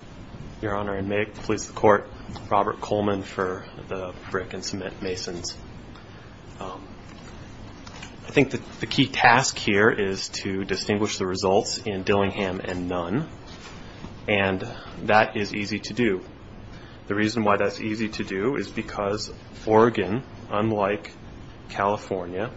I think the key task here is to distinguish the results in Dillingham and Nunn, and that is easy to do. The reason why that's easy to do is because Oregon, unlike California,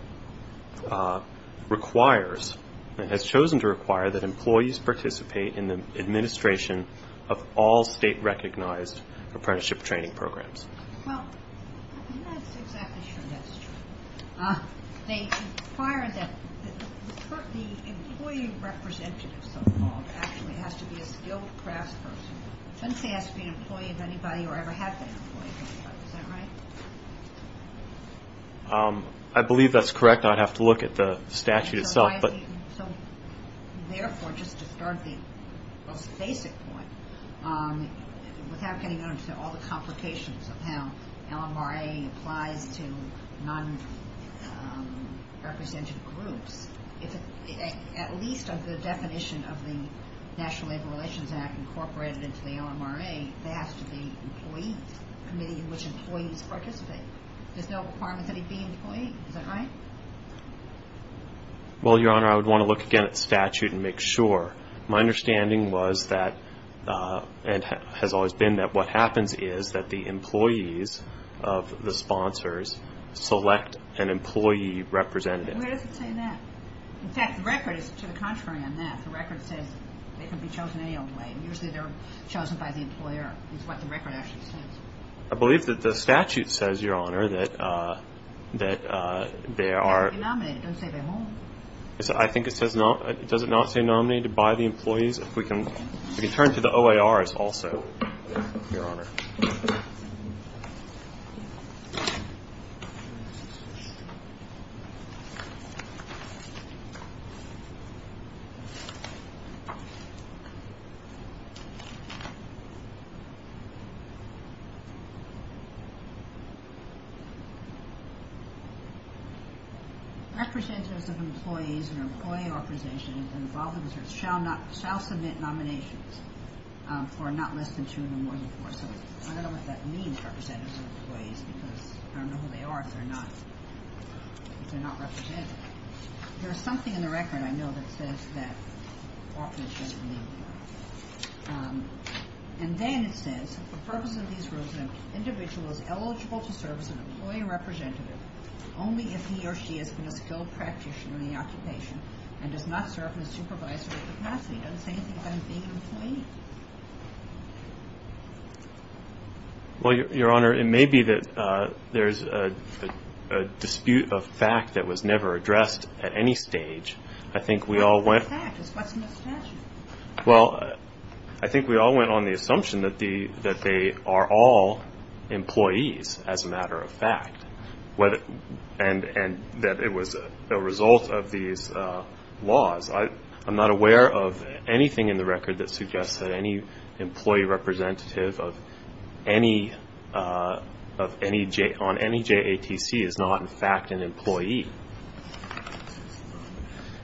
has chosen to require that employees participate in the administration of all state-recognized apprenticeship training programs. Well, I'm not exactly sure that's true. They require that the employee representative, so-called, actually has to be a skilled craftsperson. It doesn't say it has to be an employee of anybody or ever have been an employee of anybody. Is that right? I believe that's correct. I'd have to look at the statute itself. So, therefore, just to start the most basic point, without getting into all the complications of how LMRA applies to non-represented groups, at least under the definition of the National Labor Relations Act incorporated into the LMRA, there has to be an employee committee in which employees participate. There's no requirement that he be an employee. Is that right? Well, Your Honor, I would want to look again at the statute and make sure. My understanding was that, and has always been that, what happens is that the employees of the sponsors select an employee representative. Where does it say that? In fact, the record is to the contrary on that. The record says they can be chosen any old way, and usually they're chosen by the employer, is what the record actually says. I believe that the statute says, Your Honor, that they are – It doesn't say they're nominated. It doesn't say they're nominated. I think it says – does it not say nominated by the employees? If we can turn to the OARs also, Your Honor. Representatives of employees or employee organizations involved in research shall submit nominations for not less than two and more than four. So I don't know what that means, representatives of employees, because I don't know who they are if they're not represented. There's something in the record I know that says that. And then it says, for the purpose of these rules, an individual is eligible to serve as an employee representative only if he or she is a skilled practitioner in the occupation and does not serve in a supervisory capacity. It doesn't say anything about him being an employee. Well, Your Honor, it may be that there's a dispute of fact that was never addressed at any stage. I think we all went – What's a fact? What's in the statute? Well, I think we all went on the assumption that they are all employees, as a matter of fact, and that it was a result of these laws. I'm not aware of anything in the record that suggests that any employee representative on any JATC is not, in fact, an employee.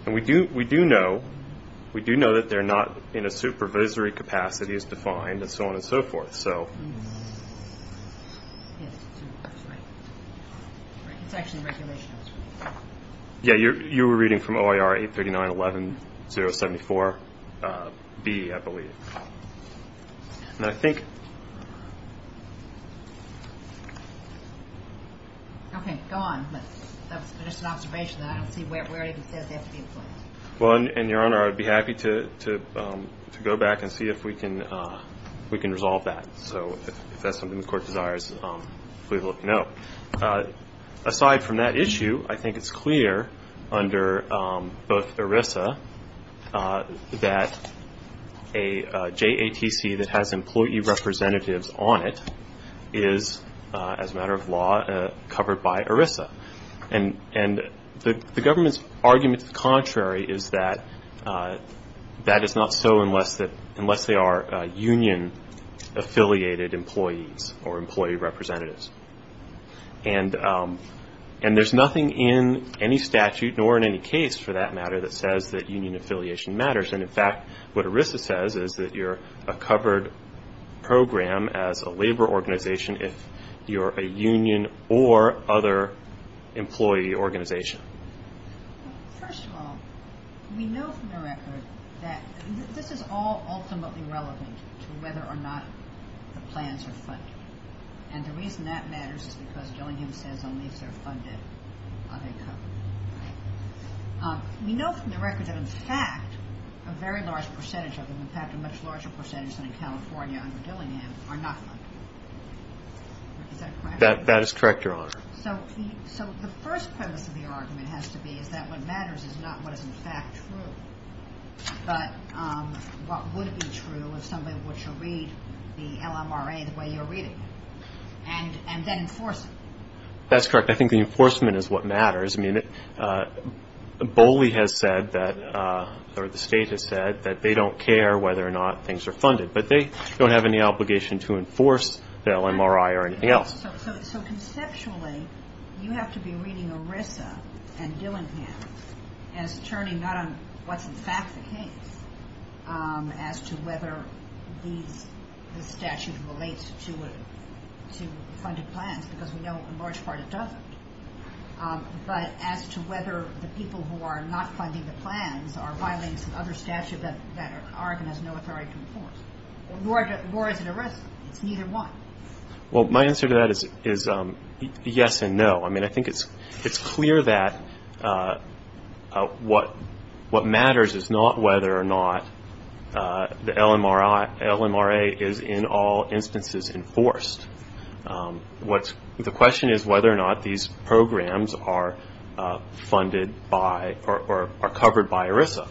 And we do know that they're not in a supervisory capacity as defined, and so on and so forth. It's actually in the regulations. Yeah, you were reading from OIR 839.11.074B, I believe. Okay, go on, but that was just an observation. I don't see where it even says they have to be employees. Well, and, Your Honor, I'd be happy to go back and see if we can resolve that. So if that's something the Court desires, please let me know. Aside from that issue, I think it's clear under both ERISA that a JATC that has employee representatives on it is, as a matter of law, covered by ERISA. And the government's argument to the contrary is that that is not so unless they are union-affiliated employees or employee representatives. And there's nothing in any statute, nor in any case for that matter, that says that union affiliation matters. And, in fact, what ERISA says is that you're a covered program as a labor organization if you're a union or other employee organization. First of all, we know from the record that this is all ultimately relevant to whether or not the plans are funded. And the reason that matters is because Dillingham says only if they're funded are they covered. We know from the record that, in fact, a very large percentage of them, in fact, a much larger percentage than in California under Dillingham, are not funded. Is that correct? That is correct, Your Honor. So the first premise of your argument has to be is that what matters is not what is, in fact, true, but what would be true if somebody were to read the LMRA the way you're reading it and then enforce it. That's correct. I think the enforcement is what matters. I mean, Boley has said that, or the State has said that they don't care whether or not things are funded, but they don't have any obligation to enforce the LMRA or anything else. So conceptually, you have to be reading ERISA and Dillingham as turning not on what's, in fact, the case, as to whether the statute relates to funded plans because we know, in large part, it doesn't. But as to whether the people who are not funding the plans are violating some other statute that Oregon has no authority to enforce. Nor is it ERISA. It's neither one. Well, my answer to that is yes and no. I mean, I think it's clear that what matters is not whether or not the LMRA is in all instances enforced. The question is whether or not these programs are funded by or are covered by ERISA.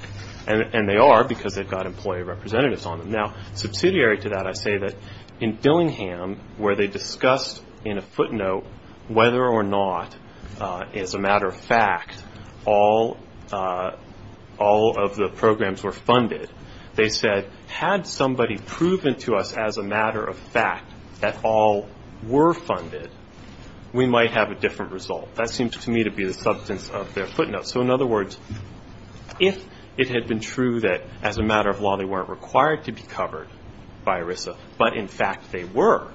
And they are because they've got employee representatives on them. Now, subsidiary to that, I say that in Dillingham, where they discussed in a footnote whether or not, as a matter of fact, all of the programs were funded, they said, had somebody proven to us, as a matter of fact, that all were funded, we might have a different result. That seemed to me to be the substance of their footnote. So, in other words, if it had been true that, as a matter of law, they weren't required to be covered by ERISA, but, in fact, they were,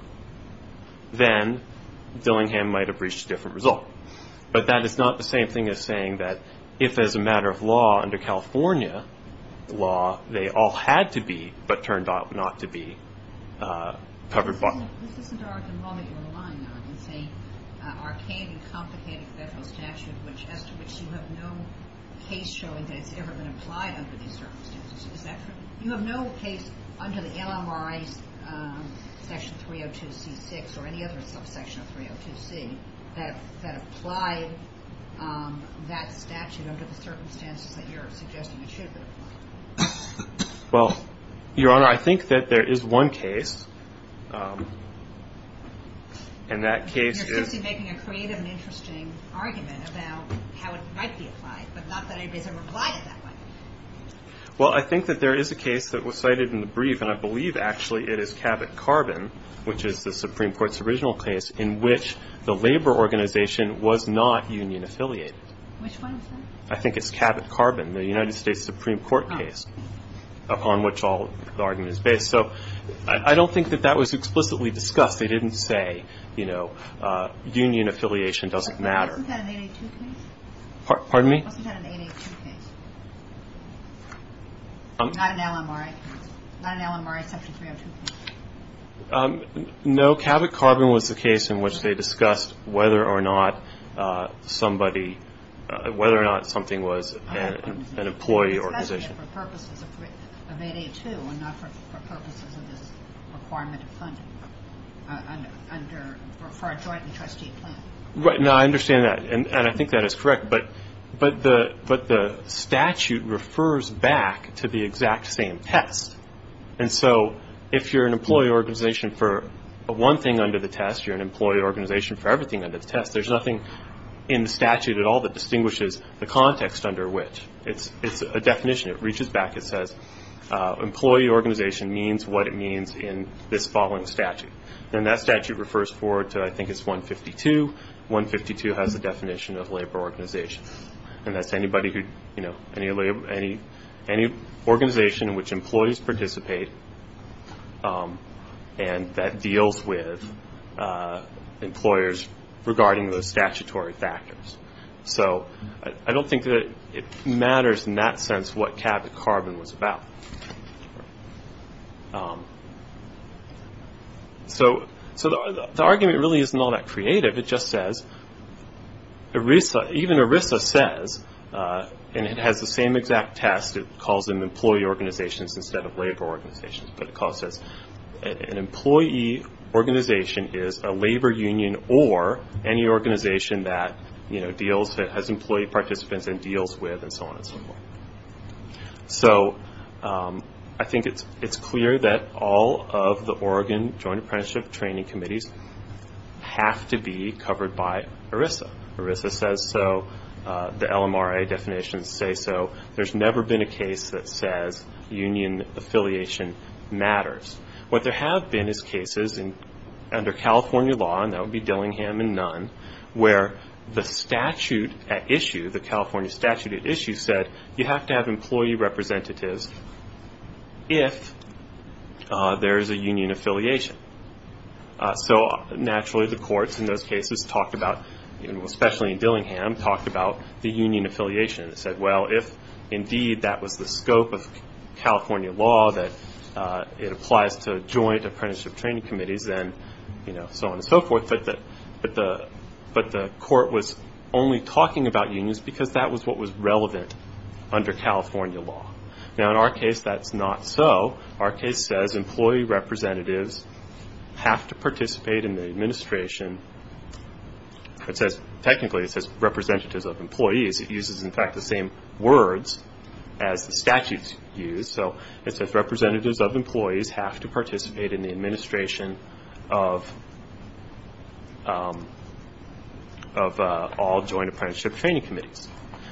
then Dillingham might have reached a different result. But that is not the same thing as saying that, if, as a matter of law, under California law, they all had to be but turned out not to be covered by it. Well, Your Honor, I think that there is one case. And that case is... You're simply making a creative and interesting argument about how it might be applied, but not that ERISA replied in that way. Well, I think that there is a case that was cited in the brief, and I believe, actually, it is Cabot-Carbon, which is the Supreme Court's original case, in which the labor organization was not union affiliated. Which one is that? I think it's Cabot-Carbon, the United States Supreme Court case, upon which all the argument is based. So I don't think that that was explicitly discussed. They didn't say, you know, union affiliation doesn't matter. Wasn't that an 882 case? Pardon me? Wasn't that an 882 case? Not an LMRA case? Not an LMRA Section 302 case? No. Cabot-Carbon was the case in which they discussed whether or not somebody, whether or not something was an employee organization. But for purposes of 882 and not for purposes of this requirement of funding for a joint and trustee plan. No, I understand that. And I think that is correct. But the statute refers back to the exact same test. And so if you're an employee organization for one thing under the test, you're an employee organization for everything under the test, there's nothing in the statute at all that distinguishes the context under which. It's a definition. It reaches back. It says employee organization means what it means in this following statute. And that statute refers forward to I think it's 152. 152 has the definition of labor organization. And that's anybody who, you know, any organization in which employees participate and that deals with employers regarding those statutory factors. So I don't think that it matters in that sense what Cabot-Carbon was about. So the argument really isn't all that creative. It just says, even ERISA says, and it has the same exact test. It calls them employee organizations instead of labor organizations. An employee organization is a labor union or any organization that, you know, has employee participants and deals with and so on and so forth. So I think it's clear that all of the Oregon Joint Apprenticeship Training Committees have to be covered by ERISA. ERISA says so. The LMRA definitions say so. There's never been a case that says union affiliation matters. What there have been is cases under California law, and that would be Dillingham and Nunn, where the statute at issue, the California statute at issue, said you have to have employee representatives if there is a union affiliation. So naturally the courts in those cases talked about, especially in Dillingham, talked about the union affiliation. It said, well, if indeed that was the scope of California law, that it applies to joint apprenticeship training committees and so on and so forth, but the court was only talking about unions because that was what was relevant under California law. Now, in our case, that's not so. Our case says employee representatives have to participate in the administration. Technically it says representatives of employees. It uses, in fact, the same words as the statutes use. So it says representatives of employees have to participate in the administration of all joint apprenticeship training committees.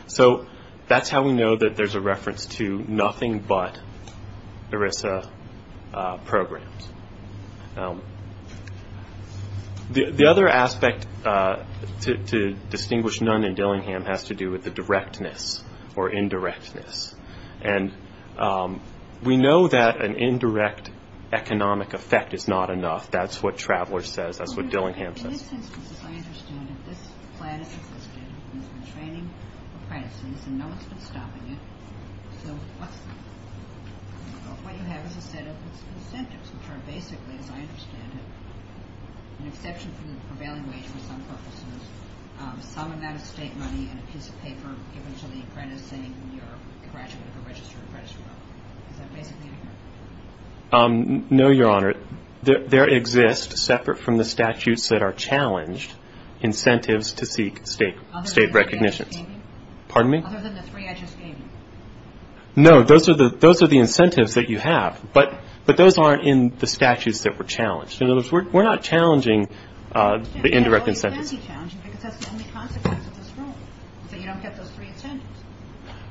So that's how we know that there's a reference to nothing but ERISA programs. The other aspect to distinguish Nunn and Dillingham has to do with the directness or indirectness. And we know that an indirect economic effect is not enough. That's what Traveler says. That's what Dillingham says. In this instance, as I understand it, this plan has existed. It's been training apprentices, and no one's been stopping it. So what you have is a set of incentives, which are basically, as I understand it, an exception for the prevailing wage for some purposes, some amount of state money and a piece of paper given to the apprentice, saying you're a graduate of a registered apprenticeship program. Is that basically accurate? No, Your Honor. There exists, separate from the statutes that are challenged, incentives to seek state recognitions. Other than the three I just gave you? No, those are the incentives that you have. But those aren't in the statutes that were challenged. In other words, we're not challenging the indirect incentives. Well, you can be challenging, because that's the only consequence of this rule, is that you don't get those three incentives.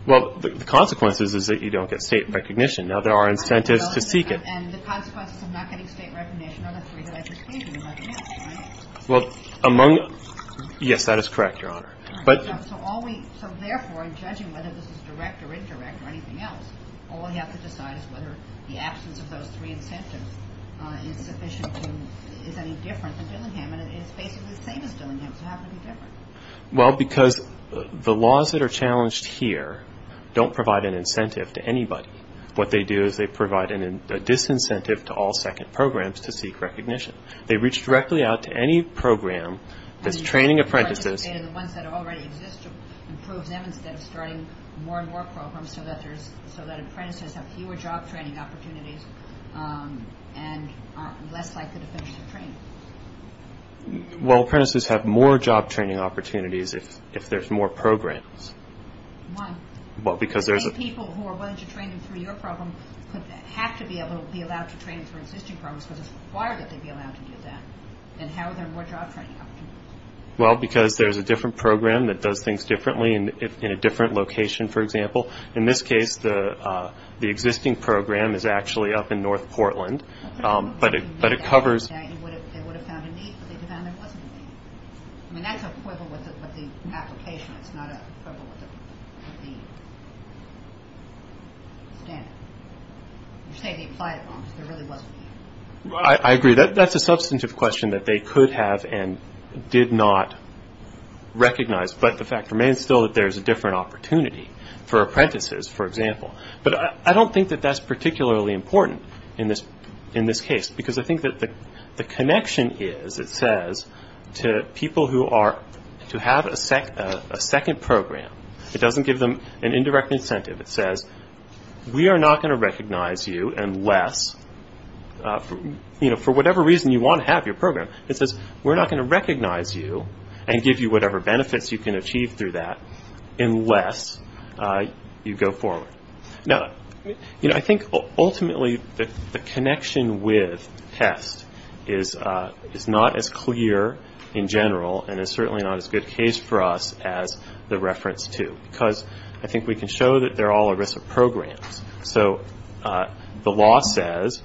Well, the consequence is that you don't get state recognition. Now, there are incentives to seek it. And the consequences of not getting state recognition are the three that I just gave you. Yes, that is correct, Your Honor. So therefore, in judging whether this is direct or indirect or anything else, all you have to decide is whether the absence of those three incentives is sufficient to is any different than Dillingham, and it's basically the same as Dillingham, so how can it be different? Well, because the laws that are challenged here don't provide an incentive to anybody. What they do is they provide a disincentive to all second programs to seek recognition. They reach directly out to any program that's training apprentices. The ones that already exist to improve them instead of starting more and more programs so that apprentices have fewer job training opportunities and are less likely to finish the training. Well, apprentices have more job training opportunities if there's more programs. Why? Well, because there's a If people who are willing to train through your program have to be able to be allowed to train through existing programs because it's required that they be allowed to do that, then how are there more job training opportunities? Well, because there's a different program that does things differently in a different location, for example. In this case, the existing program is actually up in North Portland, but it covers They would have found a need, but they found there wasn't a need. I mean, that's a quibble with the application. It's not a quibble with the standard. You're saying they applied it wrong because there really wasn't a need. I agree. That's a substantive question that they could have and did not recognize, but the fact remains still that there's a different opportunity for apprentices, for example. But I don't think that that's particularly important in this case because I think that the connection is, it says, to people who are to have a second program. It doesn't give them an indirect incentive. It says, we are not going to recognize you unless, you know, for whatever reason you want to have your program. It says, we're not going to recognize you and give you whatever benefits you can achieve through that unless you go forward. Now, you know, I think ultimately the connection with test is not as clear in general and is certainly not as good a case for us as the reference to, because I think we can show that they're all ERISA programs. So the law says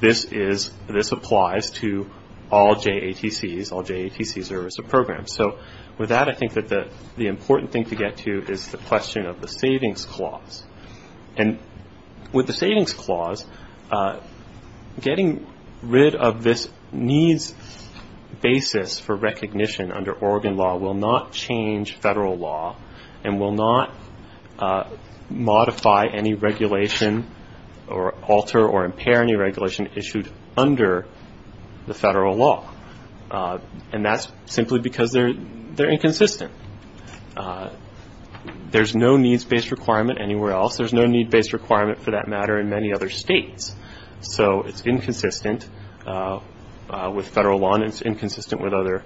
this applies to all JATCs, all JATCs are ERISA programs. So with that, I think that the important thing to get to is the question of the savings clause. And with the savings clause, getting rid of this needs basis for recognition under Oregon law will not change federal law and will not modify any regulation or alter or impair any regulation issued under the federal law. And that's simply because they're inconsistent. There's no needs-based requirement anywhere else. There's no needs-based requirement for that matter in many other states. So it's inconsistent with federal law and it's inconsistent with other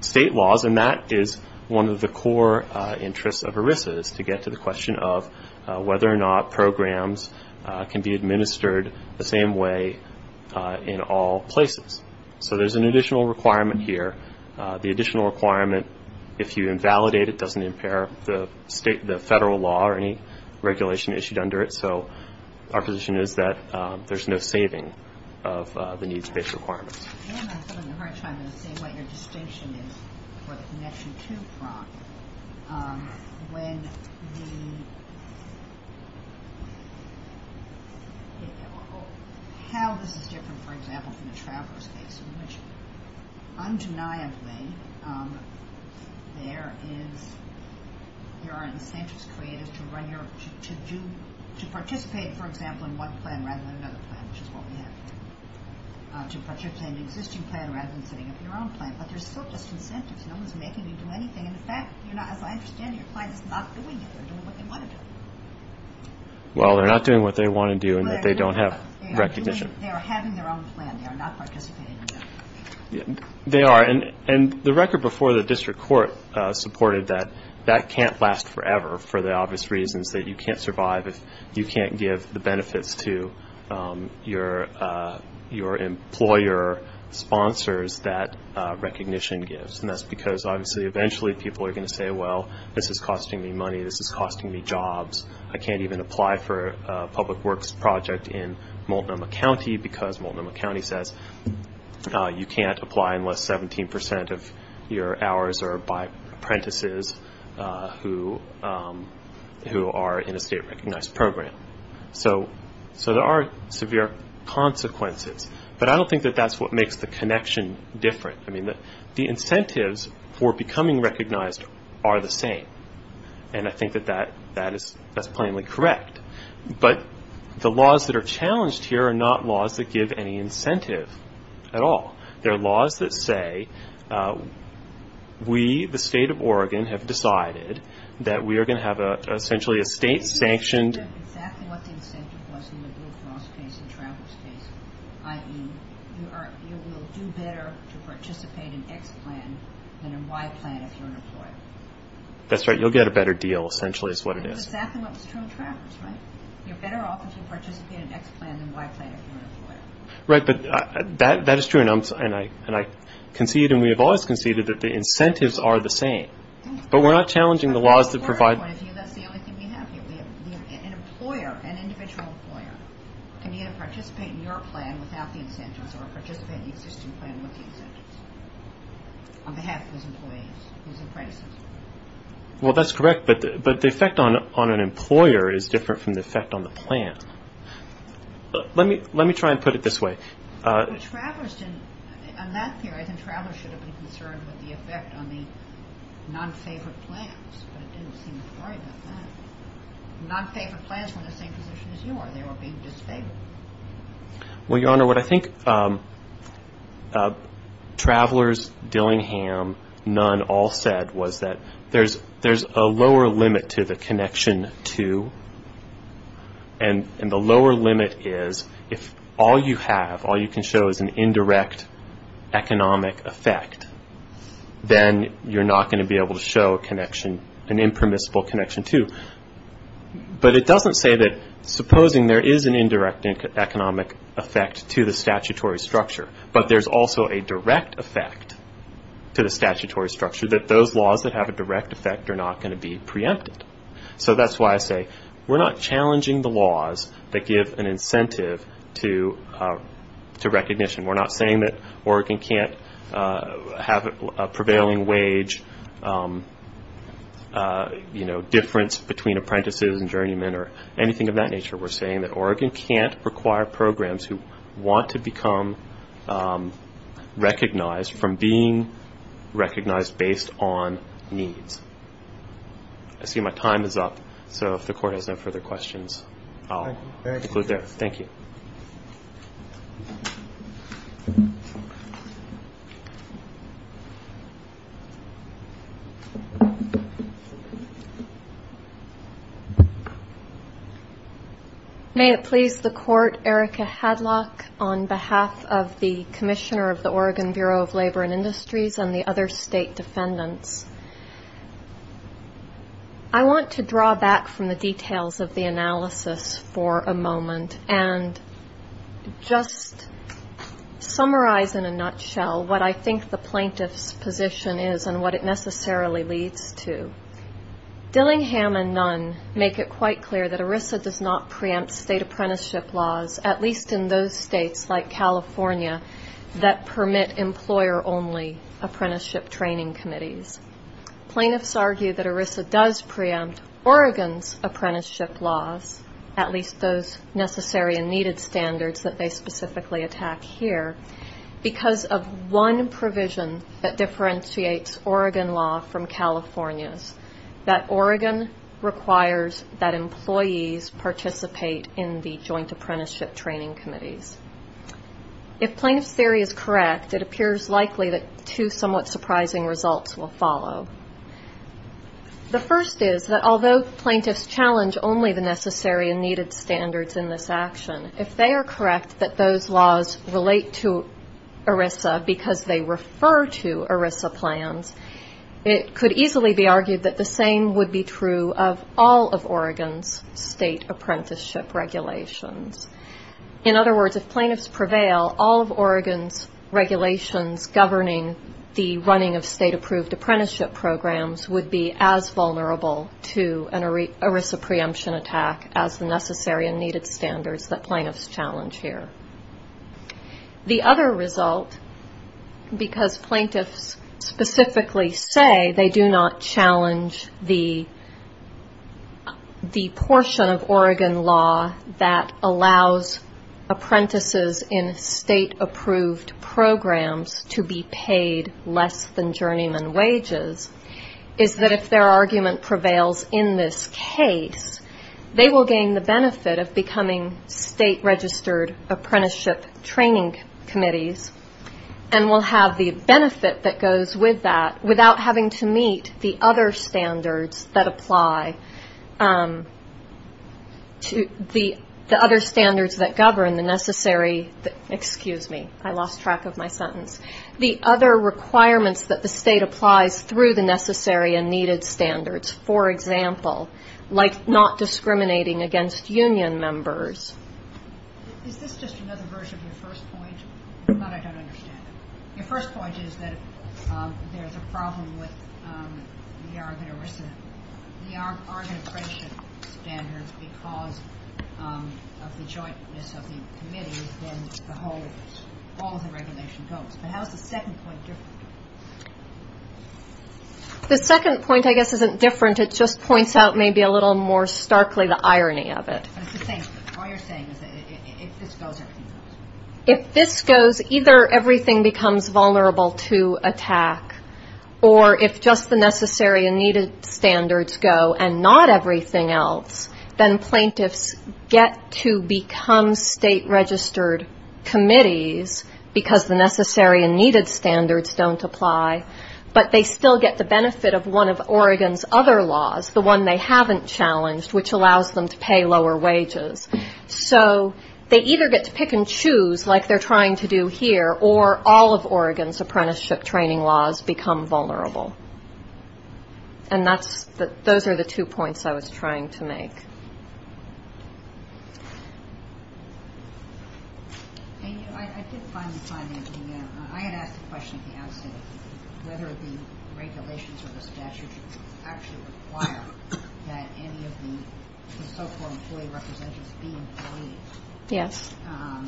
state laws. And that is one of the core interests of ERISA is to get to the question of whether or not programs can be administered the same way in all places. So there's an additional requirement here. The additional requirement, if you invalidate it, doesn't impair the federal law or any regulation issued under it. So our position is that there's no saving of the needs-based requirements. I'm having a hard time seeing what your distinction is for the Connection 2 prompt. How this is different, for example, from the traveler's case in which undeniably there are incentives created to participate, for example, in one plan rather than another plan, which is what we have here, to participate in the existing plan rather than setting up your own plan. But there's still just incentives. No one's making you do anything. And, in fact, as I understand it, your client is not doing it. They're doing what they want to do. Well, they're not doing what they want to do in that they don't have recognition. They are having their own plan. They are not participating in that. They are. And the record before the district court supported that that can't last forever for the obvious reasons that you can't survive if you can't give the benefits to your employer sponsors that recognition gives. And that's because, obviously, eventually people are going to say, well, this is costing me money. This is costing me jobs. I can't even apply for a public works project in Multnomah County because Multnomah County says you can't apply unless 17% of your hours are by apprentices who are in a state-recognized program. So there are severe consequences. But I don't think that that's what makes the connection different. I mean, the incentives for becoming recognized are the same. And I think that that's plainly correct. But the laws that are challenged here are not laws that give any incentive at all. They are laws that say we, the state of Oregon, have decided that we are going to have essentially a state-sanctioned You will get exactly what the incentive was in the Blue Cross case and Travers case, i.e., you will do better to participate in X plan than in Y plan if you're an employer. That's right. You'll get a better deal, essentially, is what it is. That's exactly what was true in Travers, right? You're better off if you participate in X plan than Y plan if you're an employer. Right, but that is true. And I concede, and we have always conceded, that the incentives are the same. But we're not challenging the laws that provide An employer, an individual employer, can either participate in your plan without the incentives or participate in the existing plan with the incentives on behalf of his employees, his apprentices. Well, that's correct. But the effect on an employer is different from the effect on the plan. Let me try and put it this way. On that theory, I think Travers should have been concerned with the effect on the non-favorite plans, but it didn't seem to worry about that. Non-favorite plans were in the same position as you are. They were being disfavored. Well, Your Honor, what I think Travers, Dillingham, Nunn all said was that there's a lower limit to the connection to, and the lower limit is if all you have, all you can show is an indirect economic effect, then you're not going to be able to show a connection, an impermissible connection to. But it doesn't say that supposing there is an indirect economic effect to the statutory structure, but there's also a direct effect to the statutory structure, that those laws that have a direct effect are not going to be preempted. So that's why I say we're not challenging the laws that give an incentive to recognition. We're not saying that Oregon can't have a prevailing wage difference between apprentices and journeymen or anything of that nature. We're saying that Oregon can't require programs who want to become recognized from being recognized based on needs. I see my time is up, so if the Court has no further questions, I'll conclude there. May it please the Court, Erica Hadlock, on behalf of the Commissioner of the Oregon Bureau of Labor and Industries and the other state defendants, I want to draw back from the details of the analysis for a moment and just summarize in a nutshell what I think the plaintiff's position is and what it necessarily leads to. Dillingham and Nunn make it quite clear that ERISA does not preempt state apprenticeship laws, at least in those states like California, that permit employer-only apprenticeship training committees. Plaintiffs argue that ERISA does preempt Oregon's apprenticeship laws, at least those necessary and needed standards that they specifically attack here, because of one provision that differentiates Oregon law from California's, that Oregon requires that employees participate in the joint apprenticeship training committees. If plaintiff's theory is correct, it appears likely that two somewhat surprising results will follow. The first is that although plaintiffs challenge only the necessary and needed standards in this action, if they are correct that those laws relate to ERISA because they refer to ERISA plans, it could easily be argued that the same would be true of all of Oregon's state apprenticeship regulations. In other words, if plaintiffs prevail, all of Oregon's regulations governing the running of state-approved apprenticeship programs would be as vulnerable to an ERISA preemption attack as the necessary and needed standards that plaintiffs challenge here. The other result, because plaintiffs specifically say they do not challenge the portion of Oregon law that allows apprentices in state-approved programs to be paid less than journeyman wages, is that if their argument prevails in this case, they will gain the benefit of becoming state-registered apprenticeship training committees and will have the benefit that goes with that without having to meet the other standards that apply, the other standards that govern the necessary, excuse me, I lost track of my sentence, the other requirements that the state applies through the necessary and needed standards. For example, like not discriminating against union members. Is this just another version of your first point? If not, I don't understand it. Your first point is that there's a problem with the Oregon ERISA, the Oregon apprenticeship standards because of the jointness of the committee within the whole ERISA. All of the regulations don't. But how is the second point different? The second point, I guess, isn't different. It just points out maybe a little more starkly the irony of it. All you're saying is that if this goes, everything goes. If this goes, either everything becomes vulnerable to attack, or if just the necessary and needed standards go and not everything else, then plaintiffs get to become state-registered committees because the necessary and needed standards don't apply, but they still get the benefit of one of Oregon's other laws, the one they haven't challenged, which allows them to pay lower wages. So they either get to pick and choose, like they're trying to do here, or all of Oregon's apprenticeship training laws become vulnerable. And those are the two points I was trying to make. I had asked a question at the outset, whether the regulations or the statute actually require that any of the so-called employee representatives be employees. And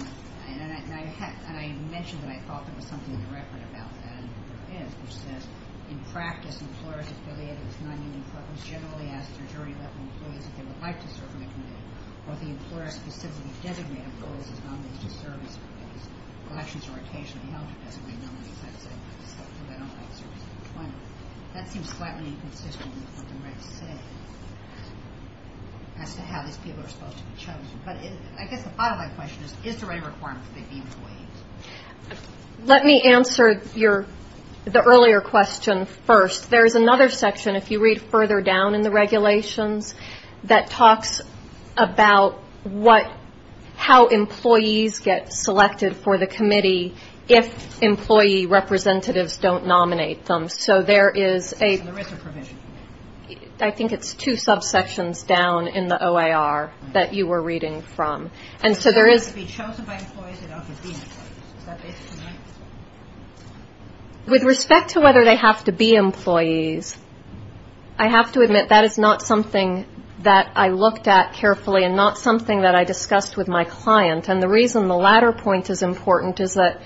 I mentioned that I thought there was something in the record about that, and there is, which says, in practice, employers affiliated with nonunion clubs generally ask their jury-elected employees if they would like to serve in the committee, or if the employer specifically designated employees as nominees to serve as employees. Elections are occasionally held to designate nominees, that seems flatly inconsistent with what I'm about to say as to how these people are supposed to be chosen. But I guess the bottom line question is, is there any requirement for them to be employees? Let me answer the earlier question first. There is another section, if you read further down in the regulations, that talks about how employees get selected for the committee if employee representatives don't nominate them. So there is a provision. I think it's two subsections down in the OAR that you were reading from. And so there is... With respect to whether they have to be employees, I have to admit that is not something that I looked at carefully and not something that I discussed with my client. And the reason the latter point is important is that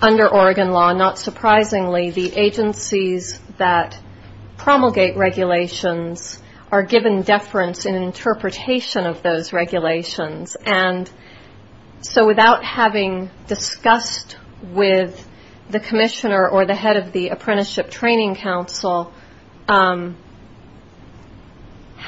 under Oregon law, not surprisingly, the agencies that promulgate regulations are given deference in interpretation of those regulations. And so without having discussed with the commissioner or the head of the Apprenticeship Training Council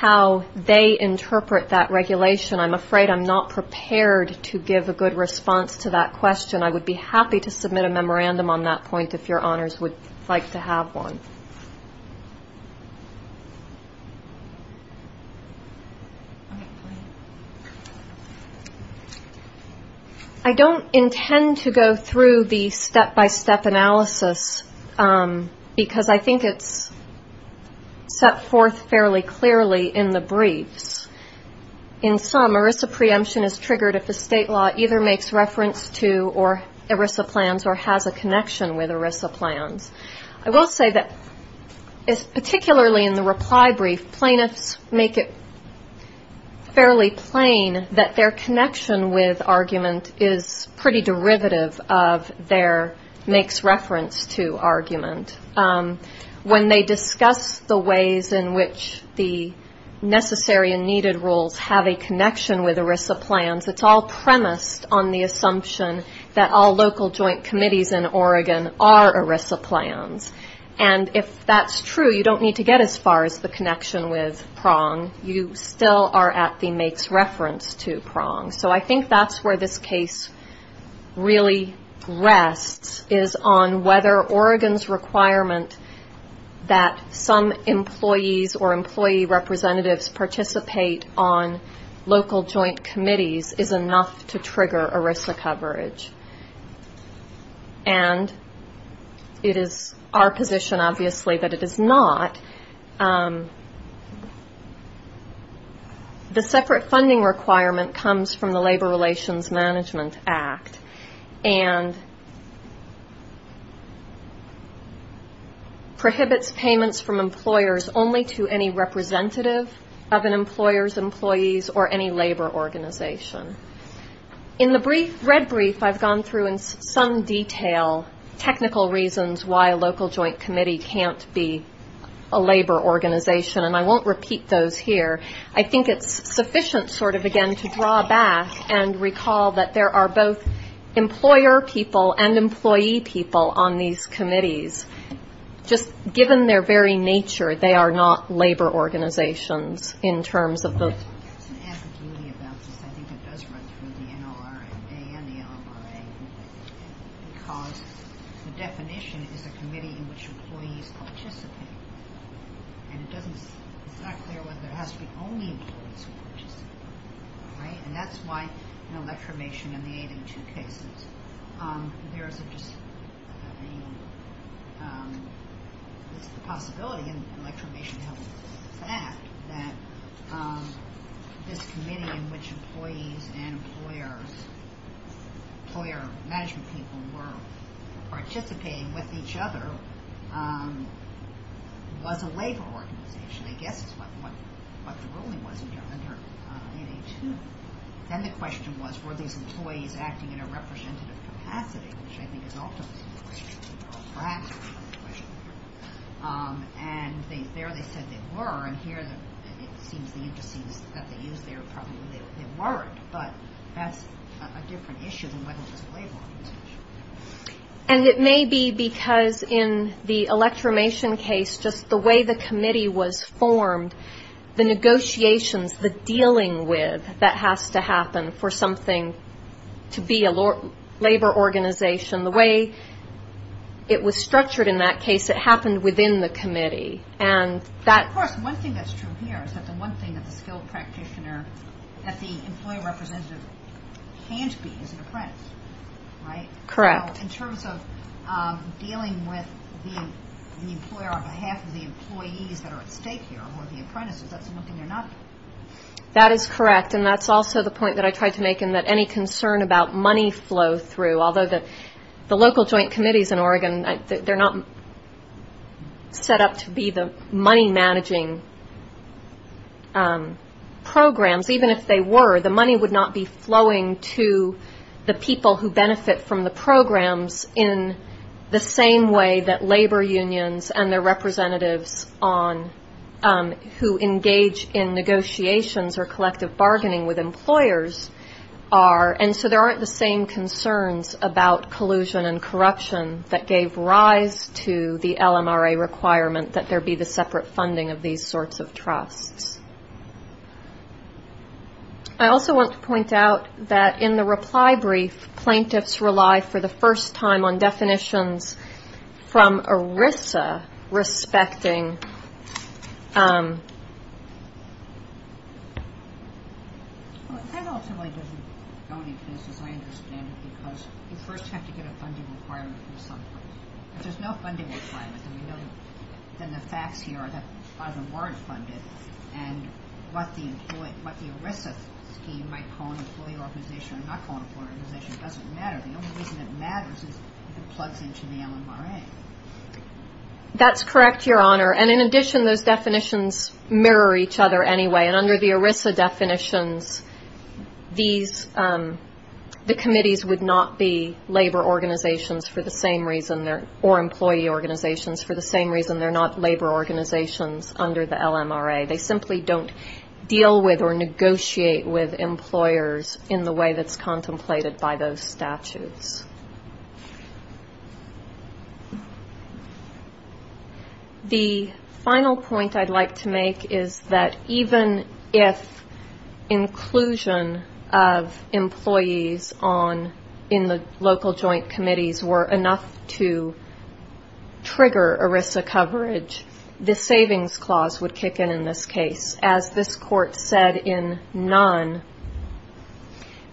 how they interpret that regulation, I'm afraid I'm not prepared to give a good response to that question. I would be happy to submit a memorandum on that point if your honors would like to have one. I don't intend to go through the step-by-step analysis because I think it's set forth fairly clearly in the briefs. In sum, ERISA preemption is triggered if a state law either makes reference to or ERISA plans or has a connection with ERISA plans. I will say that particularly in the reply brief, plaintiffs make it fairly plain that their connection with argument is pretty derivative of their makes reference to argument. When they discuss the ways in which the necessary and needed rules have a connection with ERISA plans, it's all premised on the assumption that all local joint committees in Oregon are ERISA plans. And if that's true, you don't need to get as far as the connection with PRONG. You still are at the makes reference to PRONG. So I think that's where this case really rests is on whether Oregon's requirement that some employees or employee representatives participate on local joint committees is enough to trigger ERISA coverage. And it is our position, obviously, that it is not. The separate funding requirement comes from the Labor Relations Management Act and prohibits payments from employers only to any representative of an employer's employees or any labor organization. In the red brief, I've gone through in some detail technical reasons why a local joint committee is not a labor organization. And I won't repeat those here. I think it's sufficient sort of, again, to draw back and recall that there are both employer people and employee people on these committees. Just given their very nature, they are not labor organizations in terms of the And it's not clear whether it has to be only employees who participate. And that's why in electromation in the 802 cases, there is a possibility in electromation that this committee in which employees and employers, employer management people were participating with each other, was a labor organization, I guess is what the ruling was under 802. Then the question was, were these employees acting in a representative capacity, which I think is ultimately the question. And there they said they were, and here it seems the indices that they used there probably weren't. But that's a different issue than whether it was a labor organization. And it may be because in the electromation case, just the way the committee was formed, the negotiations, the dealing with that has to happen for something to be a labor organization. The way it was structured in that case, it happened within the committee. And that of course, one thing that's true here is that the one thing that the skilled practitioner, that the employer representative can't be is an apprentice, right? So in terms of dealing with the employer on behalf of the employees that are at stake here, or the apprentices, that's something they're not doing. That is correct, and that's also the point that I tried to make in that any concern about money flow through, although the local joint committees in Oregon, they're not set up to be the money managing program. Even if they were, the money would not be flowing to the people who benefit from the programs in the same way that labor unions and their representatives on, who engage in negotiations or collective bargaining with employers are. And so there aren't the same concerns about collusion and corruption that gave rise to the LMRA requirement that there be the separate funding of these sorts of trusts. I also want to point out that in the reply brief, plaintiffs rely for the first time on definitions from ERISA respecting... That ultimately doesn't go any places, I understand, because you first have to get a funding requirement from someplace. But there's no funding requirement, and we know that the facts here are that a lot of them weren't funded, and what the ERISA scheme might call an employee organization or not call an employee organization doesn't matter. The only reason it matters is if it plugs into the LMRA. That's correct, Your Honor, and in addition, those definitions mirror each other anyway, and under the ERISA definitions, these, the committees would not be labor organizations for the same reason, or employee organizations for the same reason. They're not labor organizations under the LMRA. They simply don't deal with or negotiate with employers in the way that's contemplated by those statutes. The final point I'd like to make is that even if inclusion of employees on, in the local joint committees were enough to trigger ERISA coverage, the savings clause would kick in in this case. As this Court said in Nunn,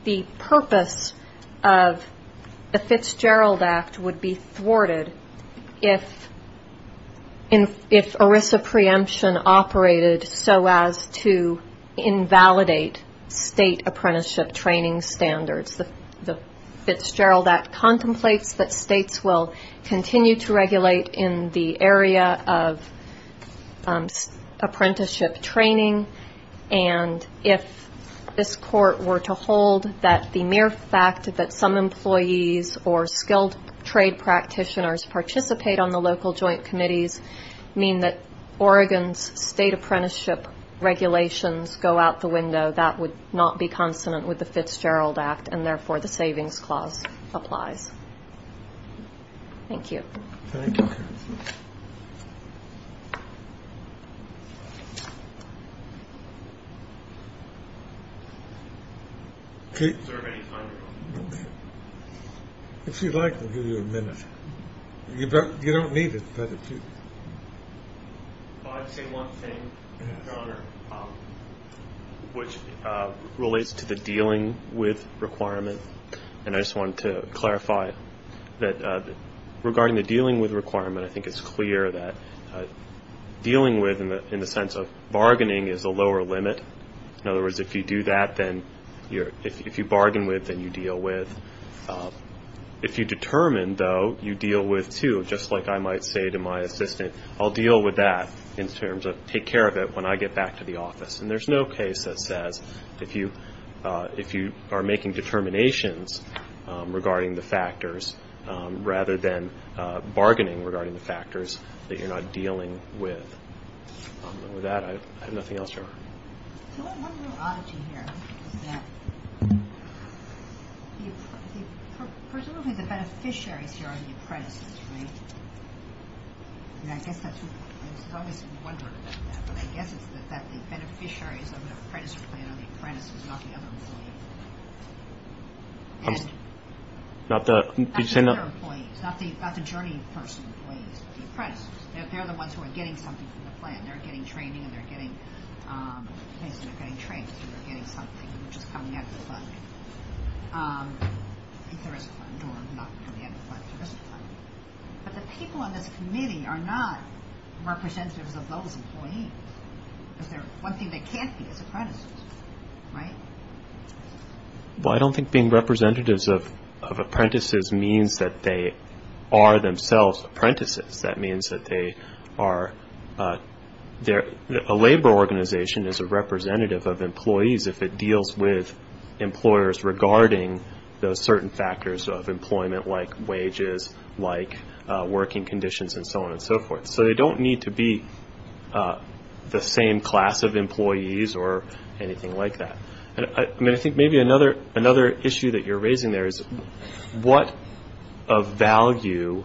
the purpose of the Fitzgerald Act would be thwarted if ERISA preemption operated so as to invalidate state apprenticeship training standards. The Fitzgerald Act contemplates that states will continue to regulate in the area of apprenticeship training and if this Court were to hold that the mere fact that some employees or skilled trade practitioners participate on the local joint committees mean that Oregon's state apprenticeship regulations go out the window, that would not be consonant with the Fitzgerald Act, and therefore the savings clause applies. Thank you. If you'd like, we'll give you a minute. You don't need it, but if you... I'd say one thing, Your Honor, which relates to the dealing with requirement, and I just wanted to clarify that regarding the dealing with requirement, I think it's clear that dealing with in the sense of bargaining is a lower limit. In other words, if you do that, then if you bargain with, then you deal with. If you determine, though, you deal with two, just like I might say to my assistant, I'll deal with that in terms of take care of it when I get back to the office. And there's no case that says if you are making determinations regarding the factors rather than bargaining regarding the factors that you're not dealing with. With that, I have nothing else, Your Honor. Presumably the beneficiaries here are the apprentices, right? I guess that's what... I was always wondering about that, but I guess it's that the beneficiaries of the apprentice plan are the apprentices, not the other employees. Not the other employees, not the journey person employees, but the apprentices. They're the ones who are getting something from the plan. They're getting training and they're getting something which is coming out of the fund. If there is a fund, or not coming out of the fund, if there is a fund. But the people on this committee are not representatives of those employees. One thing they can't be is apprentices, right? Well, I don't think being representatives of apprentices means that they are themselves apprentices. That means that they are... A labor organization is a representative of employees if it deals with employers regarding those certain factors of employment, like wages, like working conditions, and so on and so forth. So they don't need to be the same class of employees or anything like that. I mean, I think maybe another issue that you're raising there is what of value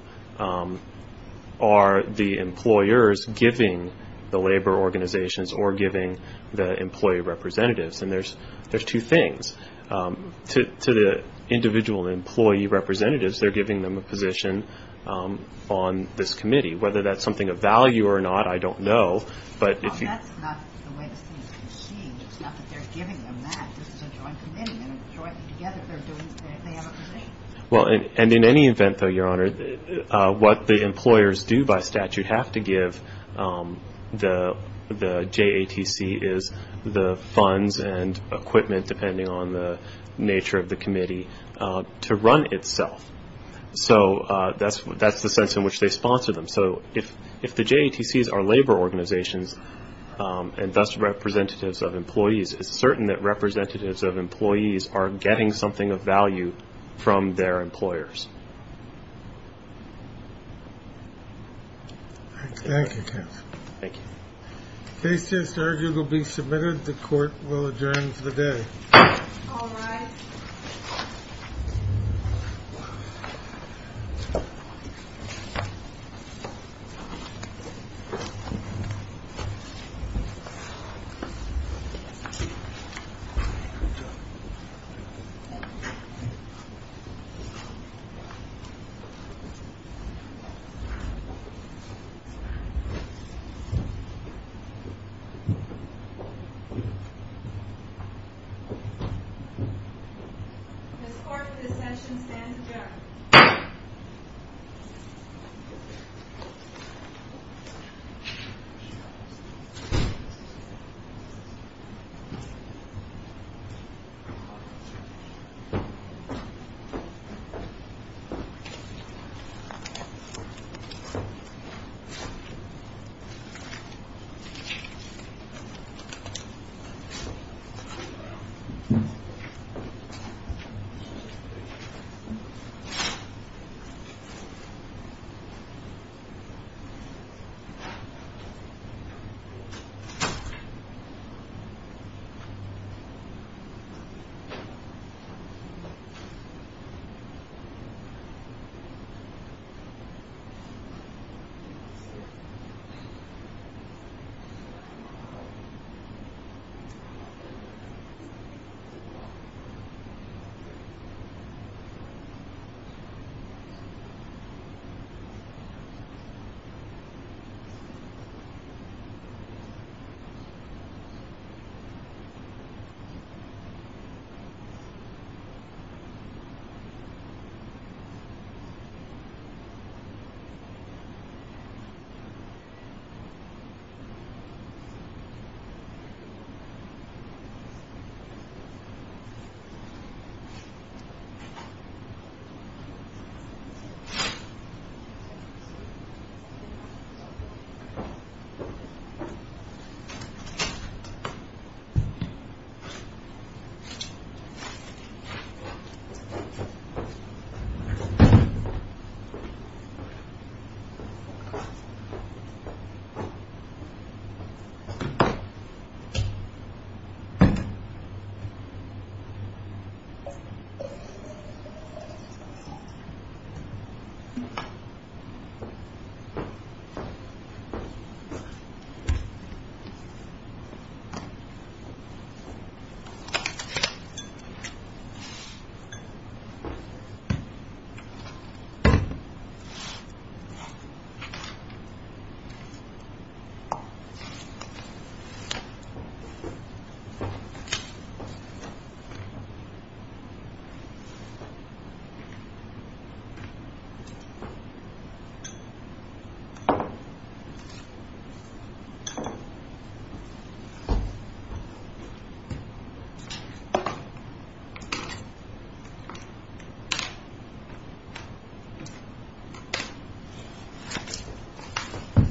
are the employers giving the labor organizations or giving the employee representatives? And there's two things. To the individual employee representatives, they're giving them a position on this committee. Whether that's something of value or not, I don't know, but if you... Well, that's not the way it seems to be seen. It's not that they're giving them that. This is a joint committee, and jointly together they have a position. Well, and in any event, though, Your Honor, what the employers do by statute have to give the JATC is the funds and equipment, depending on the nature of the committee, to run itself. So that's the sense in which they sponsor them. So if the JATCs are labor organizations, and thus representatives of employees, it's certain that representatives of employees are getting something of value from their employers. Thank you, counsel. Thank you. Case just argued will be submitted. The Court will adjourn for the day. Ms. Clark, this session stands adjourned. Thank you. Thank you. Thank you.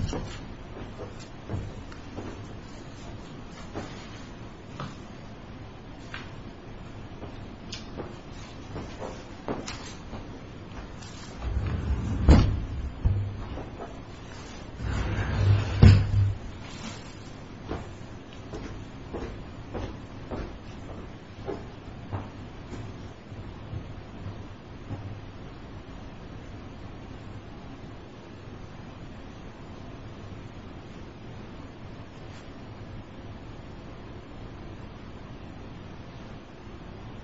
Thank you. Thank you. Thank you. Thank you.